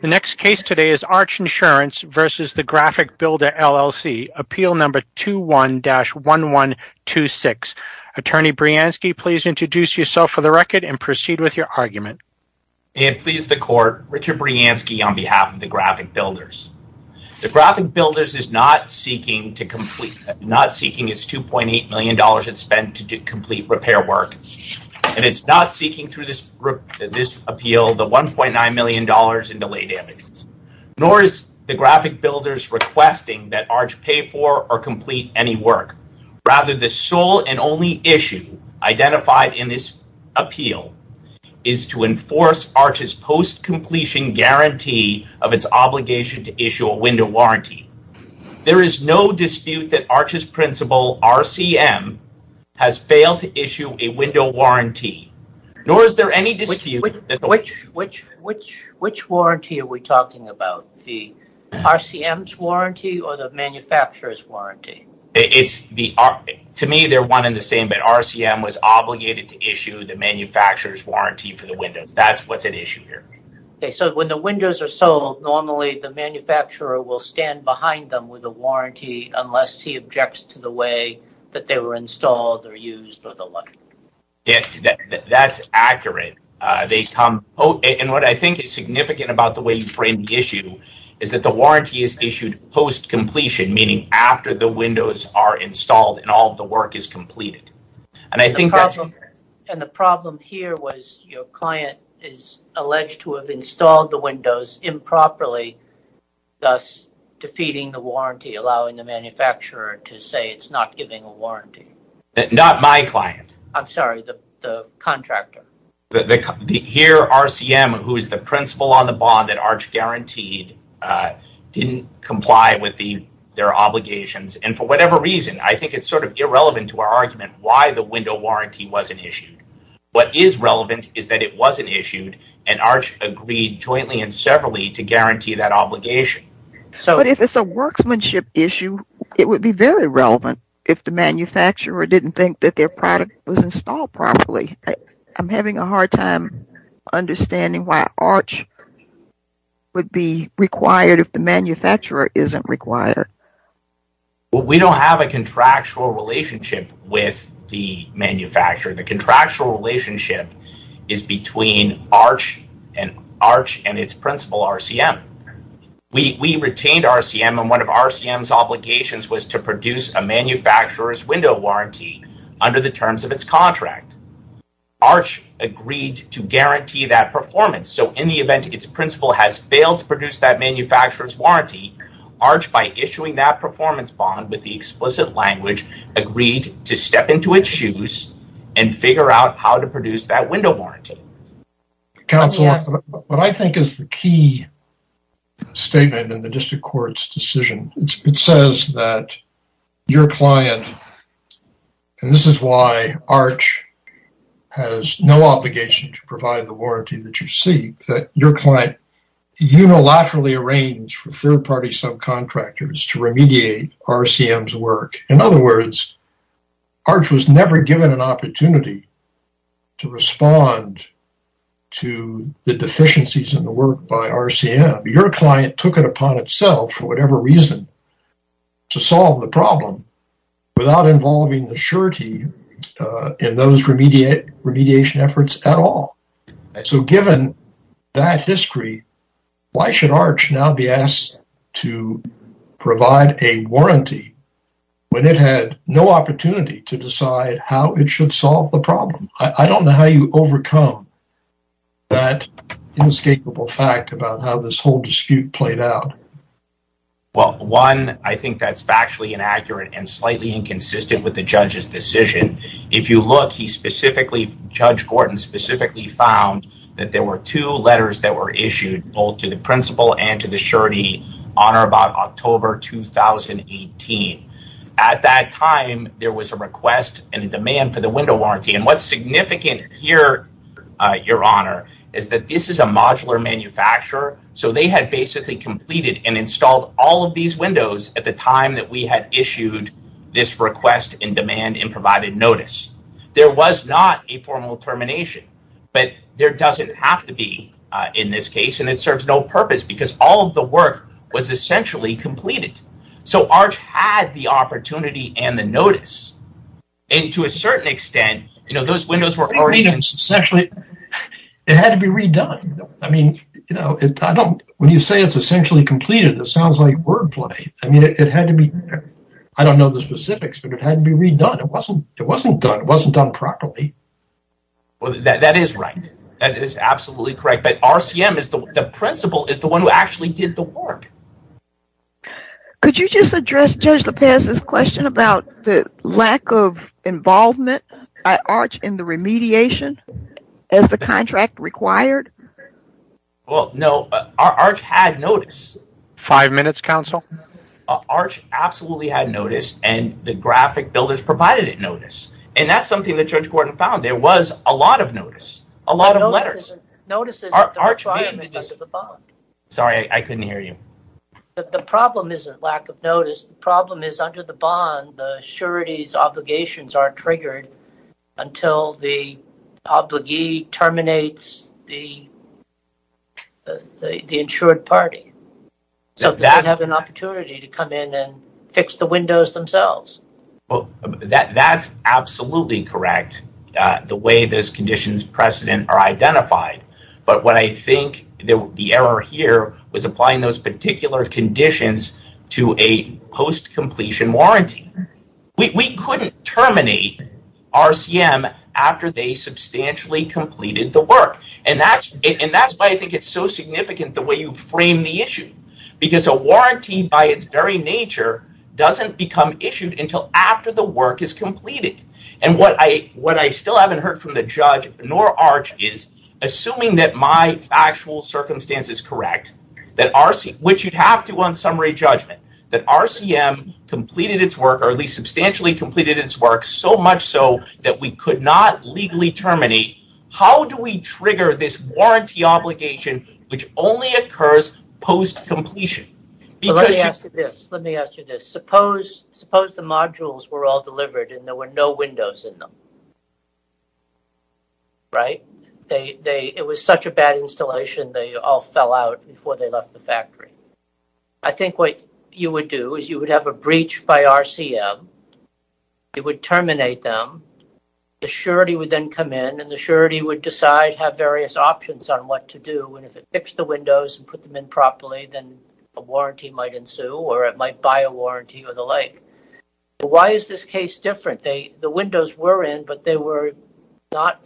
The next case today is Arch Insurance v. The Graphic Builders LLC, appeal number 21-1126. Attorney Brianski, please introduce yourself for the record and proceed with your argument. And please the court, Richard Brianski on behalf of The Graphic Builders. The Graphic Builders is not seeking to complete, not seeking its $2.8 million it spent to do complete repair work. And it's not seeking through this appeal, the $1.9 million in delay damages. Nor is The Graphic Builders requesting that Arch pay for or complete any work. Rather, the sole and only issue identified in this appeal is to enforce Arch's post-completion guarantee of its obligation to issue a window warranty. There is no dispute that Arch's principal, RCM, has failed to issue a window warranty. Nor is there any dispute... Which warranty are we talking about? The RCM's warranty or the manufacturer's warranty? To me, they're one and the same, but RCM was obligated to issue the manufacturer's warranty for the windows. That's what's at issue here. Okay, so when the windows are sold, normally the manufacturer will stand behind them with a warranty unless he objects to the way that they were installed or used or the like. Yeah, that's accurate. And what I think is significant about the way you frame the issue is that the warranty is issued post-completion, meaning after the windows are installed and all the work is completed. And the problem here was your client is alleged to have installed the windows improperly, thus defeating the warranty, allowing the manufacturer to say it's not giving a warranty. Not my client. I'm sorry, the contractor. Here, RCM, who is the principal on the bond that Arch guaranteed, didn't comply with their obligations. And for whatever reason, I think it's sort of irrelevant to our argument why the window warranty wasn't issued. What is relevant is that it wasn't issued and Arch agreed jointly and severally to guarantee that obligation. But if it's a workmanship issue, it would be very relevant if the manufacturer didn't think that their product was installed properly. I'm having a hard time understanding why Arch would be required if the manufacturer isn't required. We don't have a contractual relationship with the manufacturer. The contractual relationship is between Arch and its principal, RCM. We retained RCM, and one of RCM's obligations was to produce a manufacturer's window warranty under the terms of its contract. Arch agreed to guarantee that performance. So in the event its principal has failed to produce that manufacturer's warranty, Arch, by issuing that performance bond with the explicit language, agreed to step into its shoes and figure out how to produce that window warranty. Counsel, what I think is the key statement in the district court's decision, it says that your client, and this is why Arch has no obligation to provide the warranty that you seek, that your client unilaterally arranged for third-party subcontractors to remediate RCM's work. In other words, Arch was never given an opportunity to respond to the deficiencies in the work by RCM. Your client took it upon itself for whatever reason to solve the problem without involving the surety in those remediation efforts at all. So given that history, why should Arch now be asked to provide a warranty when it had no opportunity to decide how it should solve the problem? I don't know how you overcome that inescapable fact about how this whole dispute played out. Well, one, I think that's factually inaccurate and slightly inconsistent with the judge's decision. If you look, he specifically, Judge Gordon specifically found that there were two letters that were issued both to the principal and to the surety on or about October 2018. At that time, there was a request and a demand for the window warranty. And what's significant here, your honor, is that this is a modular manufacturer. So they had basically completed and installed all of these windows at the time that we had issued this request and demand and notice. There was not a formal termination, but there doesn't have to be in this case, and it serves no purpose because all of the work was essentially completed. So Arch had the opportunity and the notice. And to a certain extent, you know, those windows were already done. Essentially, it had to be redone. I mean, you know, when you say it's essentially completed, it sounds like wordplay. I mean, it had to be, I don't know the specifics, but it had to be done. It wasn't it wasn't done. It wasn't done properly. Well, that is right. That is absolutely correct. But RCM is the principal is the one who actually did the work. Could you just address Judge Lopez's question about the lack of involvement at Arch in the remediation as the contract required? Well, no, Arch had notice. Five minutes, counsel. Arch absolutely had notice and the graphic builders provided it notice. And that's something that Judge Gordon found. There was a lot of notice, a lot of letters. Sorry, I couldn't hear you. The problem isn't lack of notice. The problem is under the bond, the surety's obligations aren't triggered until the obligee terminates the insured party. So they have an opportunity to come in and fix the windows themselves. That's absolutely correct. The way those conditions precedent are identified. But what I think the error here was applying those particular conditions to a post-completion warranty. We couldn't terminate RCM after they substantially completed the work. And that's why I think it's so significant the way you frame the issue. Because a warranty by its very nature doesn't become issued until after the work is completed. And what I still haven't heard from the judge nor Arch is assuming that my factual circumstance is correct, which you'd have to on summary judgment, that RCM completed its work or at least substantially completed its work so much so that we could not legally terminate. How do we trigger this warranty obligation, which only occurs post-completion? Let me ask you this. Let me ask you this. Suppose the modules were all delivered and there were no windows in them. Right? It was such a bad installation, they all fell out before they left the factory. I think what you would do is you would have a breach by RCM. You would terminate them. The surety would then come in and the surety would decide, have various options on what to do. And if it fixed the windows and put them in properly, then a warranty might ensue or it might buy a warranty or the like. Why is this case different? The windows were in, but they were not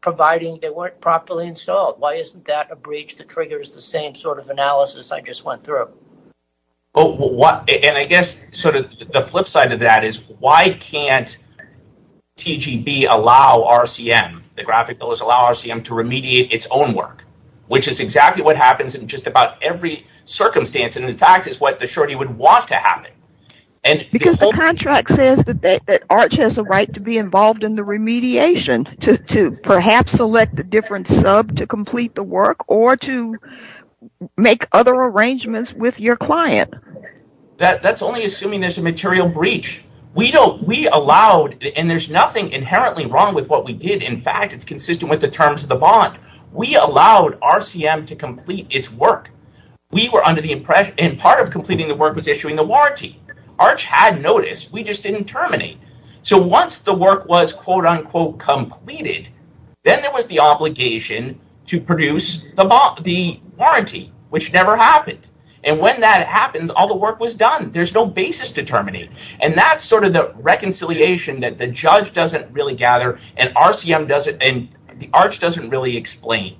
providing, they weren't properly installed. Why isn't that a breach that triggers the same analysis I just went through? I guess the flip side of that is why can't TGB allow RCM, the graphic bill, allow RCM to remediate its own work, which is exactly what happens in just about every circumstance. In fact, it's what the surety would want to happen. Because the contract says that ARCH has a right to be involved in the remediation to perhaps select a different sub to complete the work or to make other arrangements with your client. That's only assuming there's a material breach. We allowed, and there's nothing inherently wrong with what we did. In fact, it's consistent with the terms of the bond. We allowed RCM to complete its work. We were under the impression, and part of completing the work was issuing the Then there was the obligation to produce the warranty, which never happened. When that happened, all the work was done. There's no basis to terminate. That's the reconciliation that the judge doesn't really gather, and the ARCH doesn't really explain.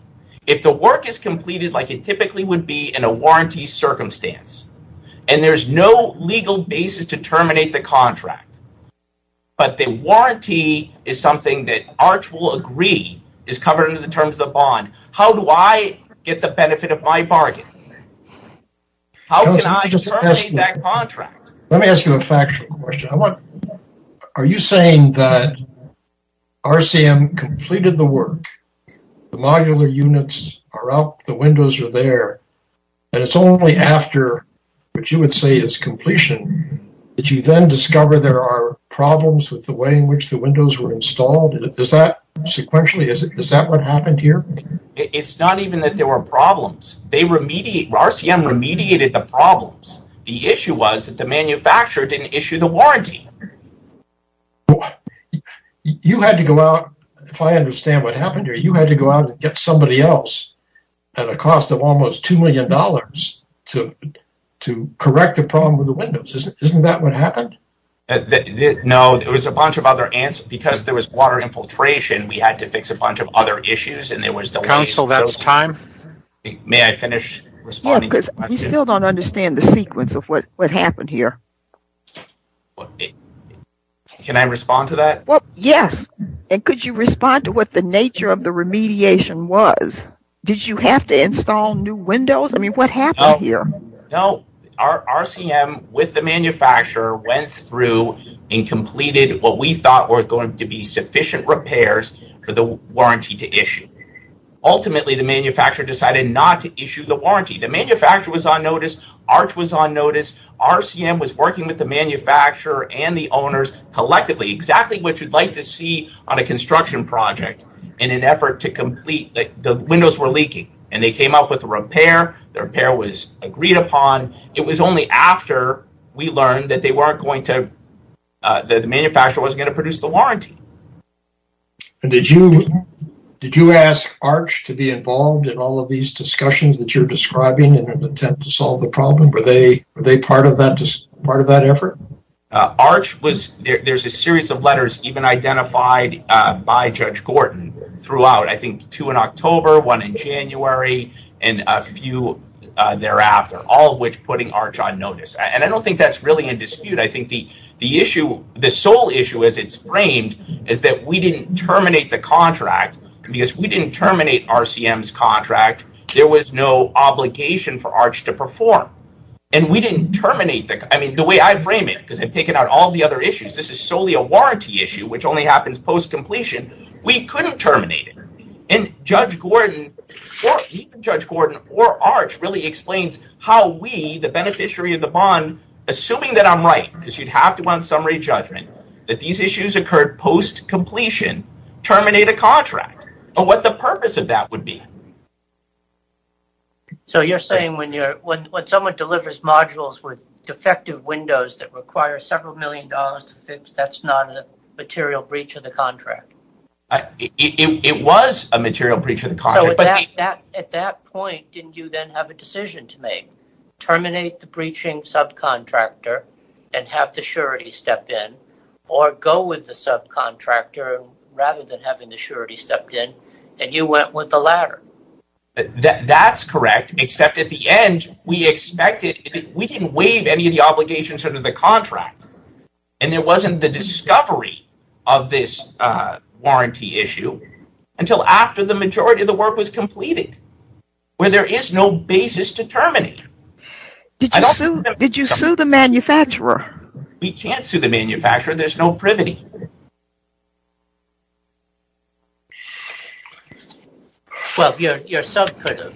If the work is completed like it typically would be in a warranty circumstance, and there's no legal basis to terminate the contract, but the warranty is something that ARCH will agree is covered under the terms of the bond. How do I get the benefit of my bargain? How can I terminate that contract? Let me ask you a factual question. Are you saying that RCM completed the work, the modular units are up, the windows are there, and it's only after what you would say is completion that you then discover there are problems with the way in which the windows were installed? Is that sequentially? Is that what happened here? It's not even that there were problems. RCM remediated the problems. The issue was that the manufacturer didn't issue the warranty. You had to go out, if I understand what happened here, you had to go out and get somebody else at a cost of almost two million dollars to correct the problem with the windows. Isn't that what happened? No, there was a bunch of other answers. Because there was water infiltration, we had to fix a bunch of other issues. Council, that's time. May I finish? Yeah, because we still don't understand the sequence of what happened here. Can I respond to that? Yes, and could you respond to what the nature of the remediation was? Did you have to install new windows? I mean, what happened here? No, RCM with the manufacturer went through and completed what we thought were going to be sufficient repairs for the warranty to issue. Ultimately, the manufacturer decided not to issue the warranty. The manufacturer was on notice. ARCH was on notice. RCM was working with the manufacturer and the owners collectively. Exactly what you'd like to see on a construction project in an effort to complete. The windows were leaking and they came up with a repair. The repair was agreed upon. It was only after we learned that the manufacturer wasn't going to produce the warranty. Did you ask ARCH to be involved in all of these discussions that you're describing in an attempt to solve the problem? Were they part of that effort? ARCH was, there's a series of letters even identified by Judge Gordon throughout, I think two in October, one in January, and a few thereafter, all of which putting ARCH on notice. I don't think that's really in dispute. I think the issue, the sole issue as it's framed is that we didn't terminate the contract because we didn't terminate RCM's contract. There was no framing because they've taken out all the other issues. This is solely a warranty issue, which only happens post-completion. We couldn't terminate it. Judge Gordon or ARCH really explains how we, the beneficiary of the bond, assuming that I'm right, because you'd have to go on summary judgment, that these issues occurred post-completion, terminate a contract, or what the purpose of that would be. You're saying when someone delivers modules with defective windows that require several million dollars to fix, that's not a material breach of the contract? It was a material breach of the contract. At that point, didn't you then have a decision to make? Terminate the breaching subcontractor and have the surety step in, or go with the subcontractor rather than having the surety stepped in, and you went with the latter? That's correct, except at the end, we didn't waive any of the obligations under the contract, and there wasn't the discovery of this warranty issue until after the majority of the work was completed, where there is no basis to terminate. Did you sue the manufacturer? We can't sue the manufacturer. There's no privity. Well, your sub could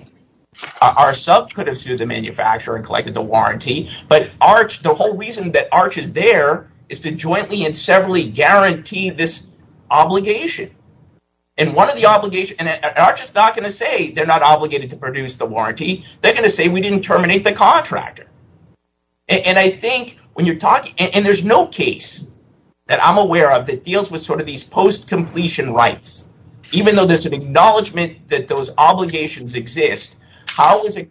have sued the manufacturer and collected the warranty, but the whole reason that ARCH is there is to jointly and severally guarantee this obligation, and ARCH is not going to say they're not obligated to produce the warranty. They're going to say we didn't terminate the contractor, and there's no case that I'm aware of that deals with sort of these post-completion rights. Even though there's an acknowledgment that those obligations exist, how is an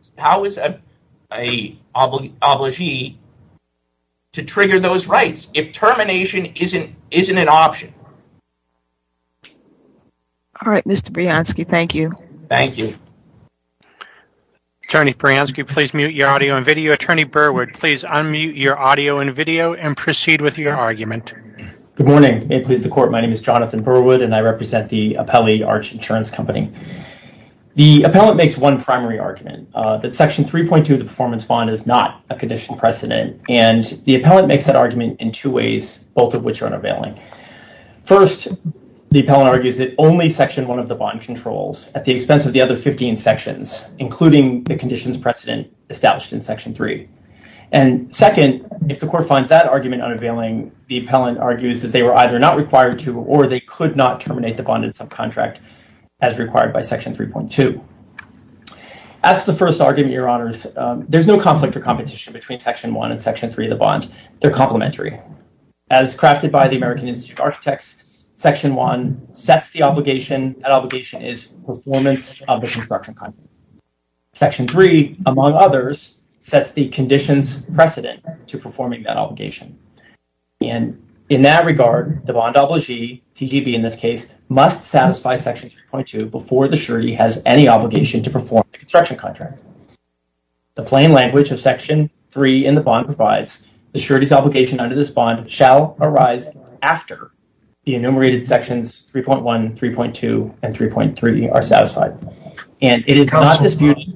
obligee to trigger those rights if termination isn't an option? All right, Mr. Brianski, thank you. Thank you. Attorney Brianski, please mute your audio and video. Attorney Burwood, please unmute your audio and video and proceed with your argument. Good morning. May it please the court, my name is Jonathan Burwood, and I represent the Appellee ARCH Insurance Company. The appellant makes one primary argument, that Section 3.2 of the performance bond is not a condition precedent, and the appellant makes that argument in two ways, both of which are unavailing. First, the appellant argues that only Section 1 of the bond controls at the expense of the other 15 sections, including the conditions precedent established in Section 3. And second, if the court finds that argument unavailing, the appellant argues that they were either not required to, or they could not terminate the bonded subcontract as required by Section 3.2. As to the first argument, Your Honors, there's no conflict or competition between Section 1 and Section 3 of the bond. They're complementary. As crafted by the American Institute of Architects, Section 1 sets the obligation, that obligation is performance of the construction contract. Section 3, among others, sets the conditions precedent to performing that obligation. And in that regard, the bond obligee, TGB in this case, must satisfy Section 3.2 before the surety has any obligation to perform the construction contract. The plain language of Section 3 in the bond provides the surety's obligation under this bond shall arise after the enumerated sections 3.1, 3.2, and 3.3 are satisfied. And it is not disputed.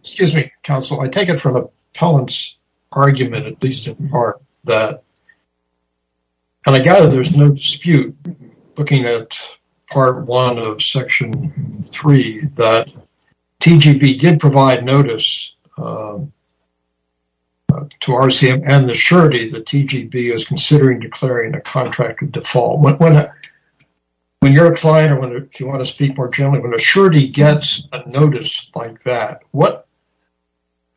Excuse me, counsel. I take it from the appellant's argument, at least in part, that, and I gather there's no dispute looking at Part 1 of Section 3, that TGB did provide notice to RCM and the surety that TGB is considering declaring a contract of default. When you're applying, I wonder if you want to speak more generally, when a surety gets a notice like that, what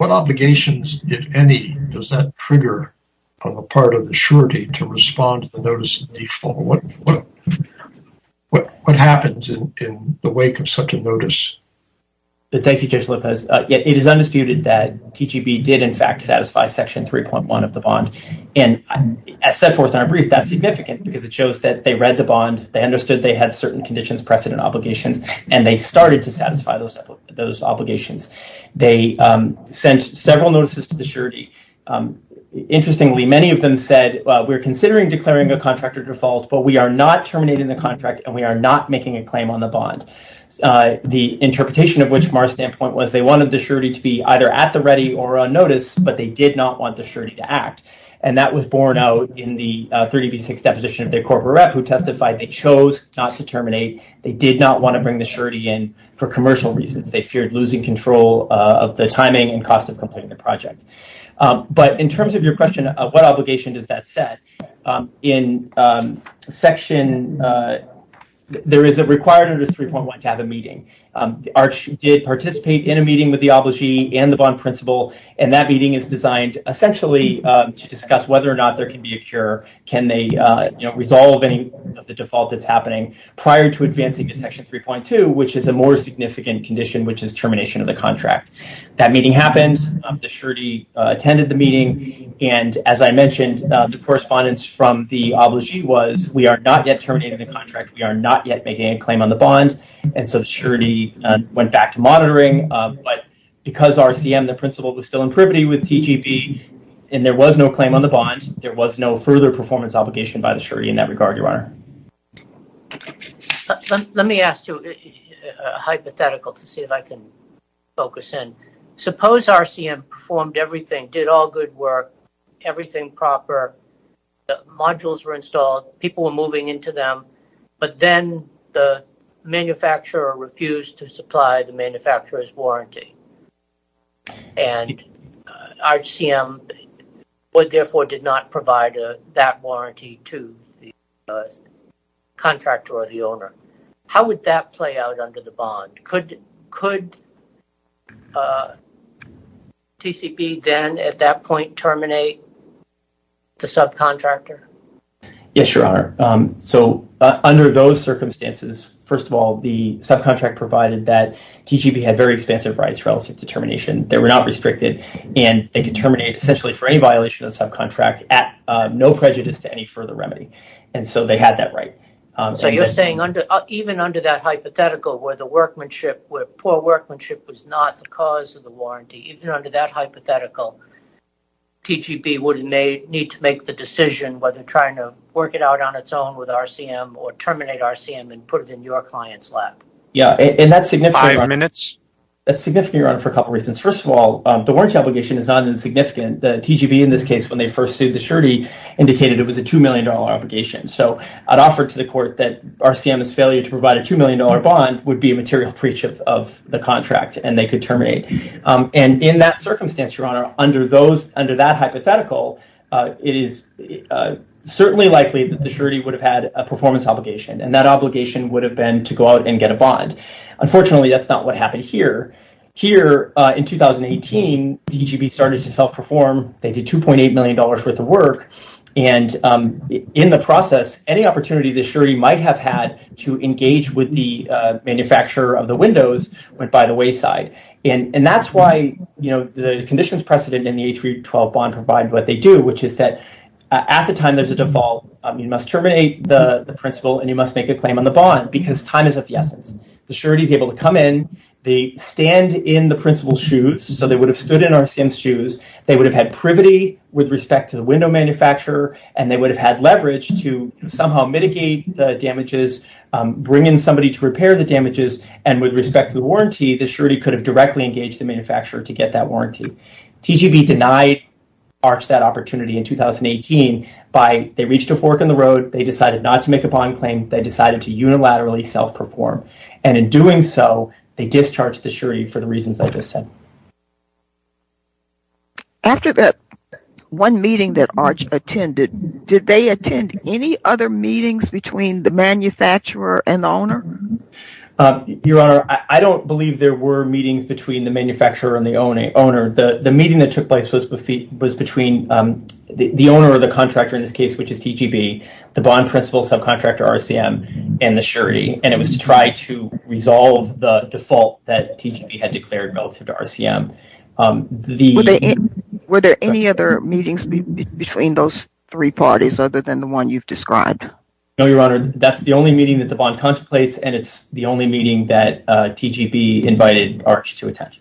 obligations, if any, does that trigger on the part of the surety to respond to the notice of default? What happens in the wake of such a notice? Thank you, Judge Lopez. It is undisputed that TGB did, in fact, satisfy Section 3.1 of the bond. And as set forth in our brief, that's significant because it shows that they read the bond, they understood they had certain conditions, precedent obligations, and they started to satisfy those obligations. They sent several notices to the surety. Interestingly, many of them said, well, we're considering declaring a contract of default, but we are not terminating the contract and we are not making a claim on the bond. The interpretation of which from our standpoint was they wanted the surety to be either at the ready or on notice, but they did not want the surety to act. And that was borne out in the 30B6 deposition of their corporate rep, who testified they chose not to terminate. They did not want to bring the surety in for commercial reasons. They feared losing control of the timing and cost of completing the project. But in terms of your question of what obligation does that set, in Section... There is a requirement under 3.1 to have a meeting. The Arch did participate in a meeting with the obligee and the bond principal, and that meeting is designed essentially to discuss whether or not there can be a cure. Can they resolve any of the default that's happening prior to advancing to Section 3.2, which is a more significant condition, which is termination of the contract. That meeting happened. The surety attended the meeting. And as I mentioned, the correspondence from the obligee was we are not yet terminating the contract. We are not yet making a claim on the bond. And so the surety went back to monitoring. But because RCM, the principal, was still in privity with TGB, and there was no claim on the bond, there was no further performance obligation by the surety in that regard, Your Honor. Let me ask you a hypothetical to see if I can focus in. Suppose RCM performed everything, did all good work, everything proper. The modules were installed. People were moving into them. But then the manufacturer refused to supply the manufacturer's warranty. And RCM therefore did not provide that warranty to the contractor or the owner. How would that play out under the bond? Could TCB then at that point terminate the subcontractor? Yes, Your Honor. So under those circumstances, first of all, the subcontractor provided that TGB had very expansive rights relative to termination. They were not restricted. And they could terminate essentially for any violation of the subcontract at no prejudice to any further remedy. And so they had that right. So you're saying even under that not the cause of the warranty, even under that hypothetical, TGB would need to make the decision whether trying to work it out on its own with RCM or terminate RCM and put it in your client's lap? Yeah, and that's significant, Your Honor, for a couple reasons. First of all, the warranty obligation is not insignificant. The TGB in this case when they first sued the surety indicated it was a $2 million obligation. So I'd offer to the court that RCM's failure to provide a $2 million bond would be a material breach of the contract and they could terminate. And in that circumstance, Your Honor, under that hypothetical, it is certainly likely that the surety would have had a performance obligation. And that obligation would have been to go out and get a bond. Unfortunately, that's not what happened here. Here in 2018, TGB started to self-perform. They did $2.8 million worth of work. And in the process, any opportunity the surety might have had to engage with the manufacturer of the windows went by the wayside. And that's why the conditions precedent in the H.R.E. 12 bond provide what they do, which is that at the time there's a default, you must terminate the principal and you must make a claim on the bond because time is of the essence. The surety is able to come in, they stand in the principal's shoes, so they would have stood in RCM's shoes, they would have had privity with respect to the window manufacturer, and they would have had leverage to somehow mitigate the damages, bring in somebody to repair the damages, and with respect to the warranty, the surety could have directly engaged the manufacturer to get that warranty. TGB denied ARCH that opportunity in 2018 by, they reached a fork in the road, they decided not to make a bond claim, they decided to unilaterally self-perform. And in doing so, they discharged the surety for the reasons I just said. After that one meeting that ARCH attended, did they attend any other meetings between the manufacturer and the owner? Your Honor, I don't believe there were meetings between the manufacturer and the owner. The meeting that took place was between the owner or the contractor in this case, which is TGB, the bond principal subcontractor, RCM, and the surety, and it was to try to resolve the default that TGB had declared relative to RCM. Were there any other meetings between those three parties other than the one you've described? No, Your Honor, that's the only meeting that the bond contemplates, and it's the only meeting that TGB invited ARCH to attend.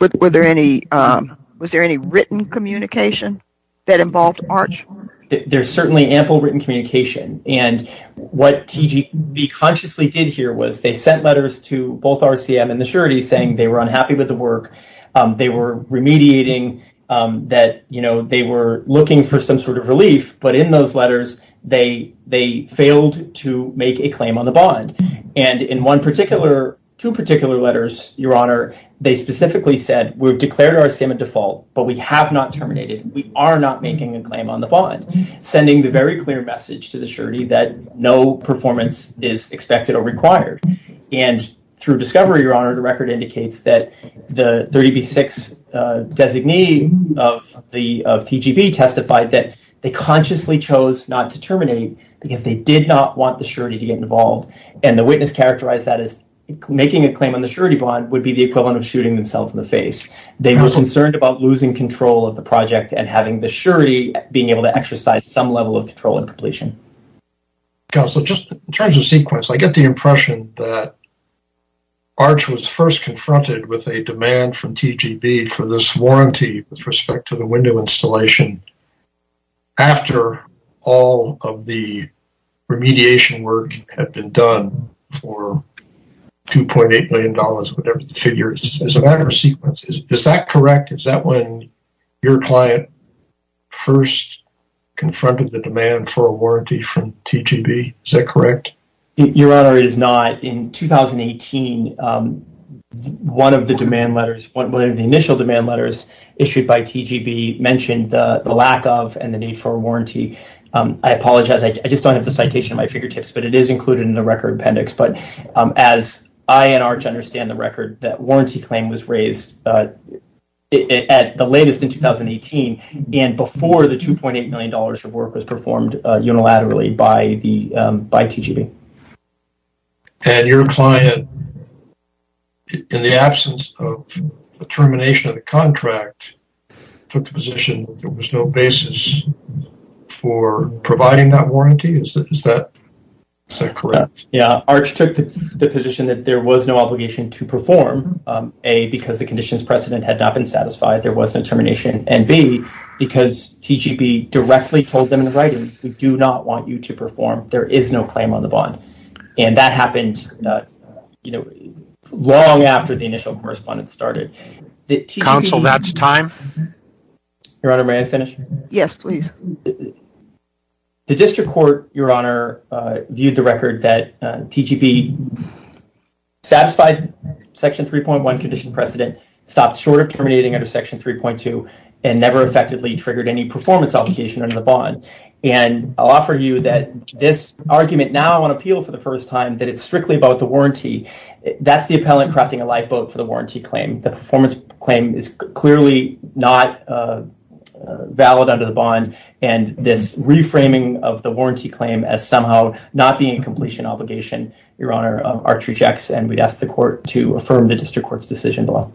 Was there any written communication that involved ARCH? There's certainly ample written communication, and what TGB consciously did here was they sent letters to both RCM and the surety saying they were unhappy with the work, they were remediating, that they were looking for some sort of relief, but in those letters, they failed to make a claim on the bond. And in two particular letters, Your Honor, they specifically said, we've declared RCM a default, but we have not terminated, we are not making a claim on the bond, sending the very clear message to the surety that no performance is expected or required. And through discovery, Your Honor, the record indicates that the 30B6 designee of TGB testified that they consciously chose not to terminate because they did not want the surety to get involved, and the witness characterized that as making a claim on the surety bond would be the equivalent of shooting themselves in the face. They were concerned about losing control of the project and having the surety being able to exercise some level of control and completion. Counselor, just in terms of sequence, I get the impression that ARCH was first confronted with a demand from TGB for this warranty with respect to the window installation after all of the remediation work had been done for $2.8 million, whatever the figure is, is that correct? Is that when your client first confronted the demand for a warranty from TGB? Is that correct? Your Honor, it is not. In 2018, one of the demand letters, one of the initial demand letters issued by TGB mentioned the lack of and the need for a warranty. I apologize, I just don't have the citation at my fingertips, but it is included in the record appendix. But as I and ARCH understand the record, that warranty claim was raised at the latest in 2018 and before the $2.8 million of work was performed unilaterally by TGB. And your client, in the absence of the termination of the contract, took the position that there was no basis for providing that warranty? Is that correct? Yeah, ARCH took the position that there was no obligation to perform, A, because the conditions precedent had not been satisfied, there was no termination, and B, because TGB directly told them in writing, we do not want you to perform, there is no claim on the bond. And that happened, you know, long after the initial correspondence started. Counsel, that's time. Your Honor, may I finish? Yes, please. The District Court, Your Honor, viewed the record that TGB satisfied Section 3.1 condition precedent, stopped short of terminating under Section 3.2, and never effectively triggered any performance obligation under the bond. And I'll offer you that this argument now on appeal for the first time, that it's strictly about the warranty, that's the appellant crafting a lifeboat for the warranty claim. The performance claim is clearly not valid under the bond, and this reframing of the warranty claim as somehow not being a completion obligation, Your Honor, ARCH rejects, and we'd ask the Court to affirm the District Court's decision below.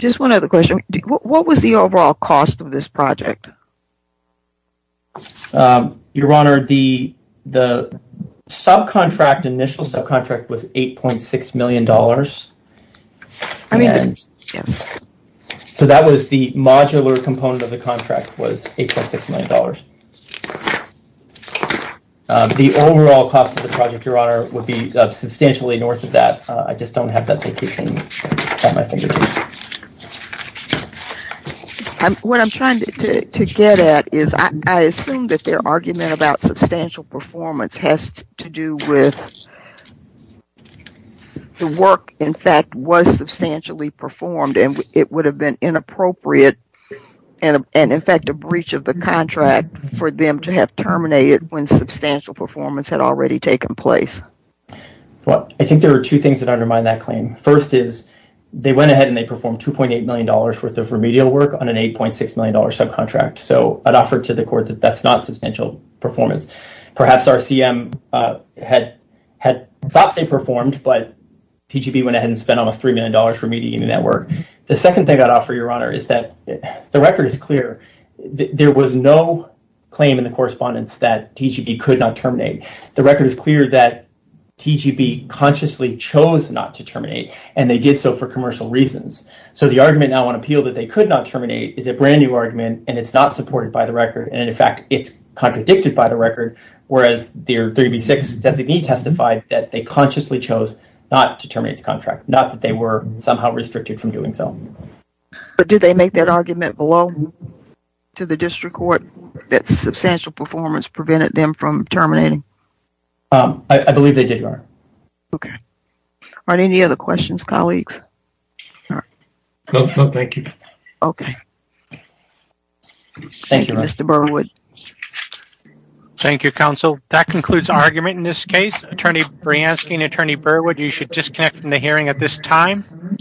Just one other question, what was the overall cost of this project? Your Honor, the subcontract, initial subcontract, was $8.6 million. So that was the modular component of the contract, was $8.6 million. The overall cost of the project, Your Honor, would be substantially north of that. I just don't have that type of thing at my fingertips. What I'm trying to get at is, I assume that their argument about substantial performance has to do with the work in fact was substantially performed, and it would have been inappropriate, and in fact a breach of the contract for them to have terminated when substantial performance had already taken place. Well, I think there are two things that undermine that claim. First is, they went ahead and they performed $2.8 million worth of remedial work on an $8.6 million subcontract. So I'd offer to the Court that that's not substantial performance. Perhaps RCM had thought they performed, but TGB went ahead and spent almost $3 million for remedial work. The second thing I'd offer, Your Honor, is that the record is clear. There was no claim in the correspondence that TGB could not terminate. The record is clear that TGB consciously chose not to terminate, and they did so for commercial reasons. So the argument now on appeal that they could not terminate is a brand new argument, and it's not supported by the record, and in fact it's contradicted by the record, whereas their 3B6 designee testified that they consciously chose not to terminate the contract, not that they were somehow restricted from doing so. But did they make that argument below to the District Court that substantial performance prevented them from terminating? I believe they did, Your Honor. Okay. Are there any other questions, colleagues? No. No, thank you. Okay. Thank you, Mr. Burwood. Thank you, counsel. That concludes argument in this case. Attorney Brianski and Attorney Burwood, you should disconnect from the hearing at this time.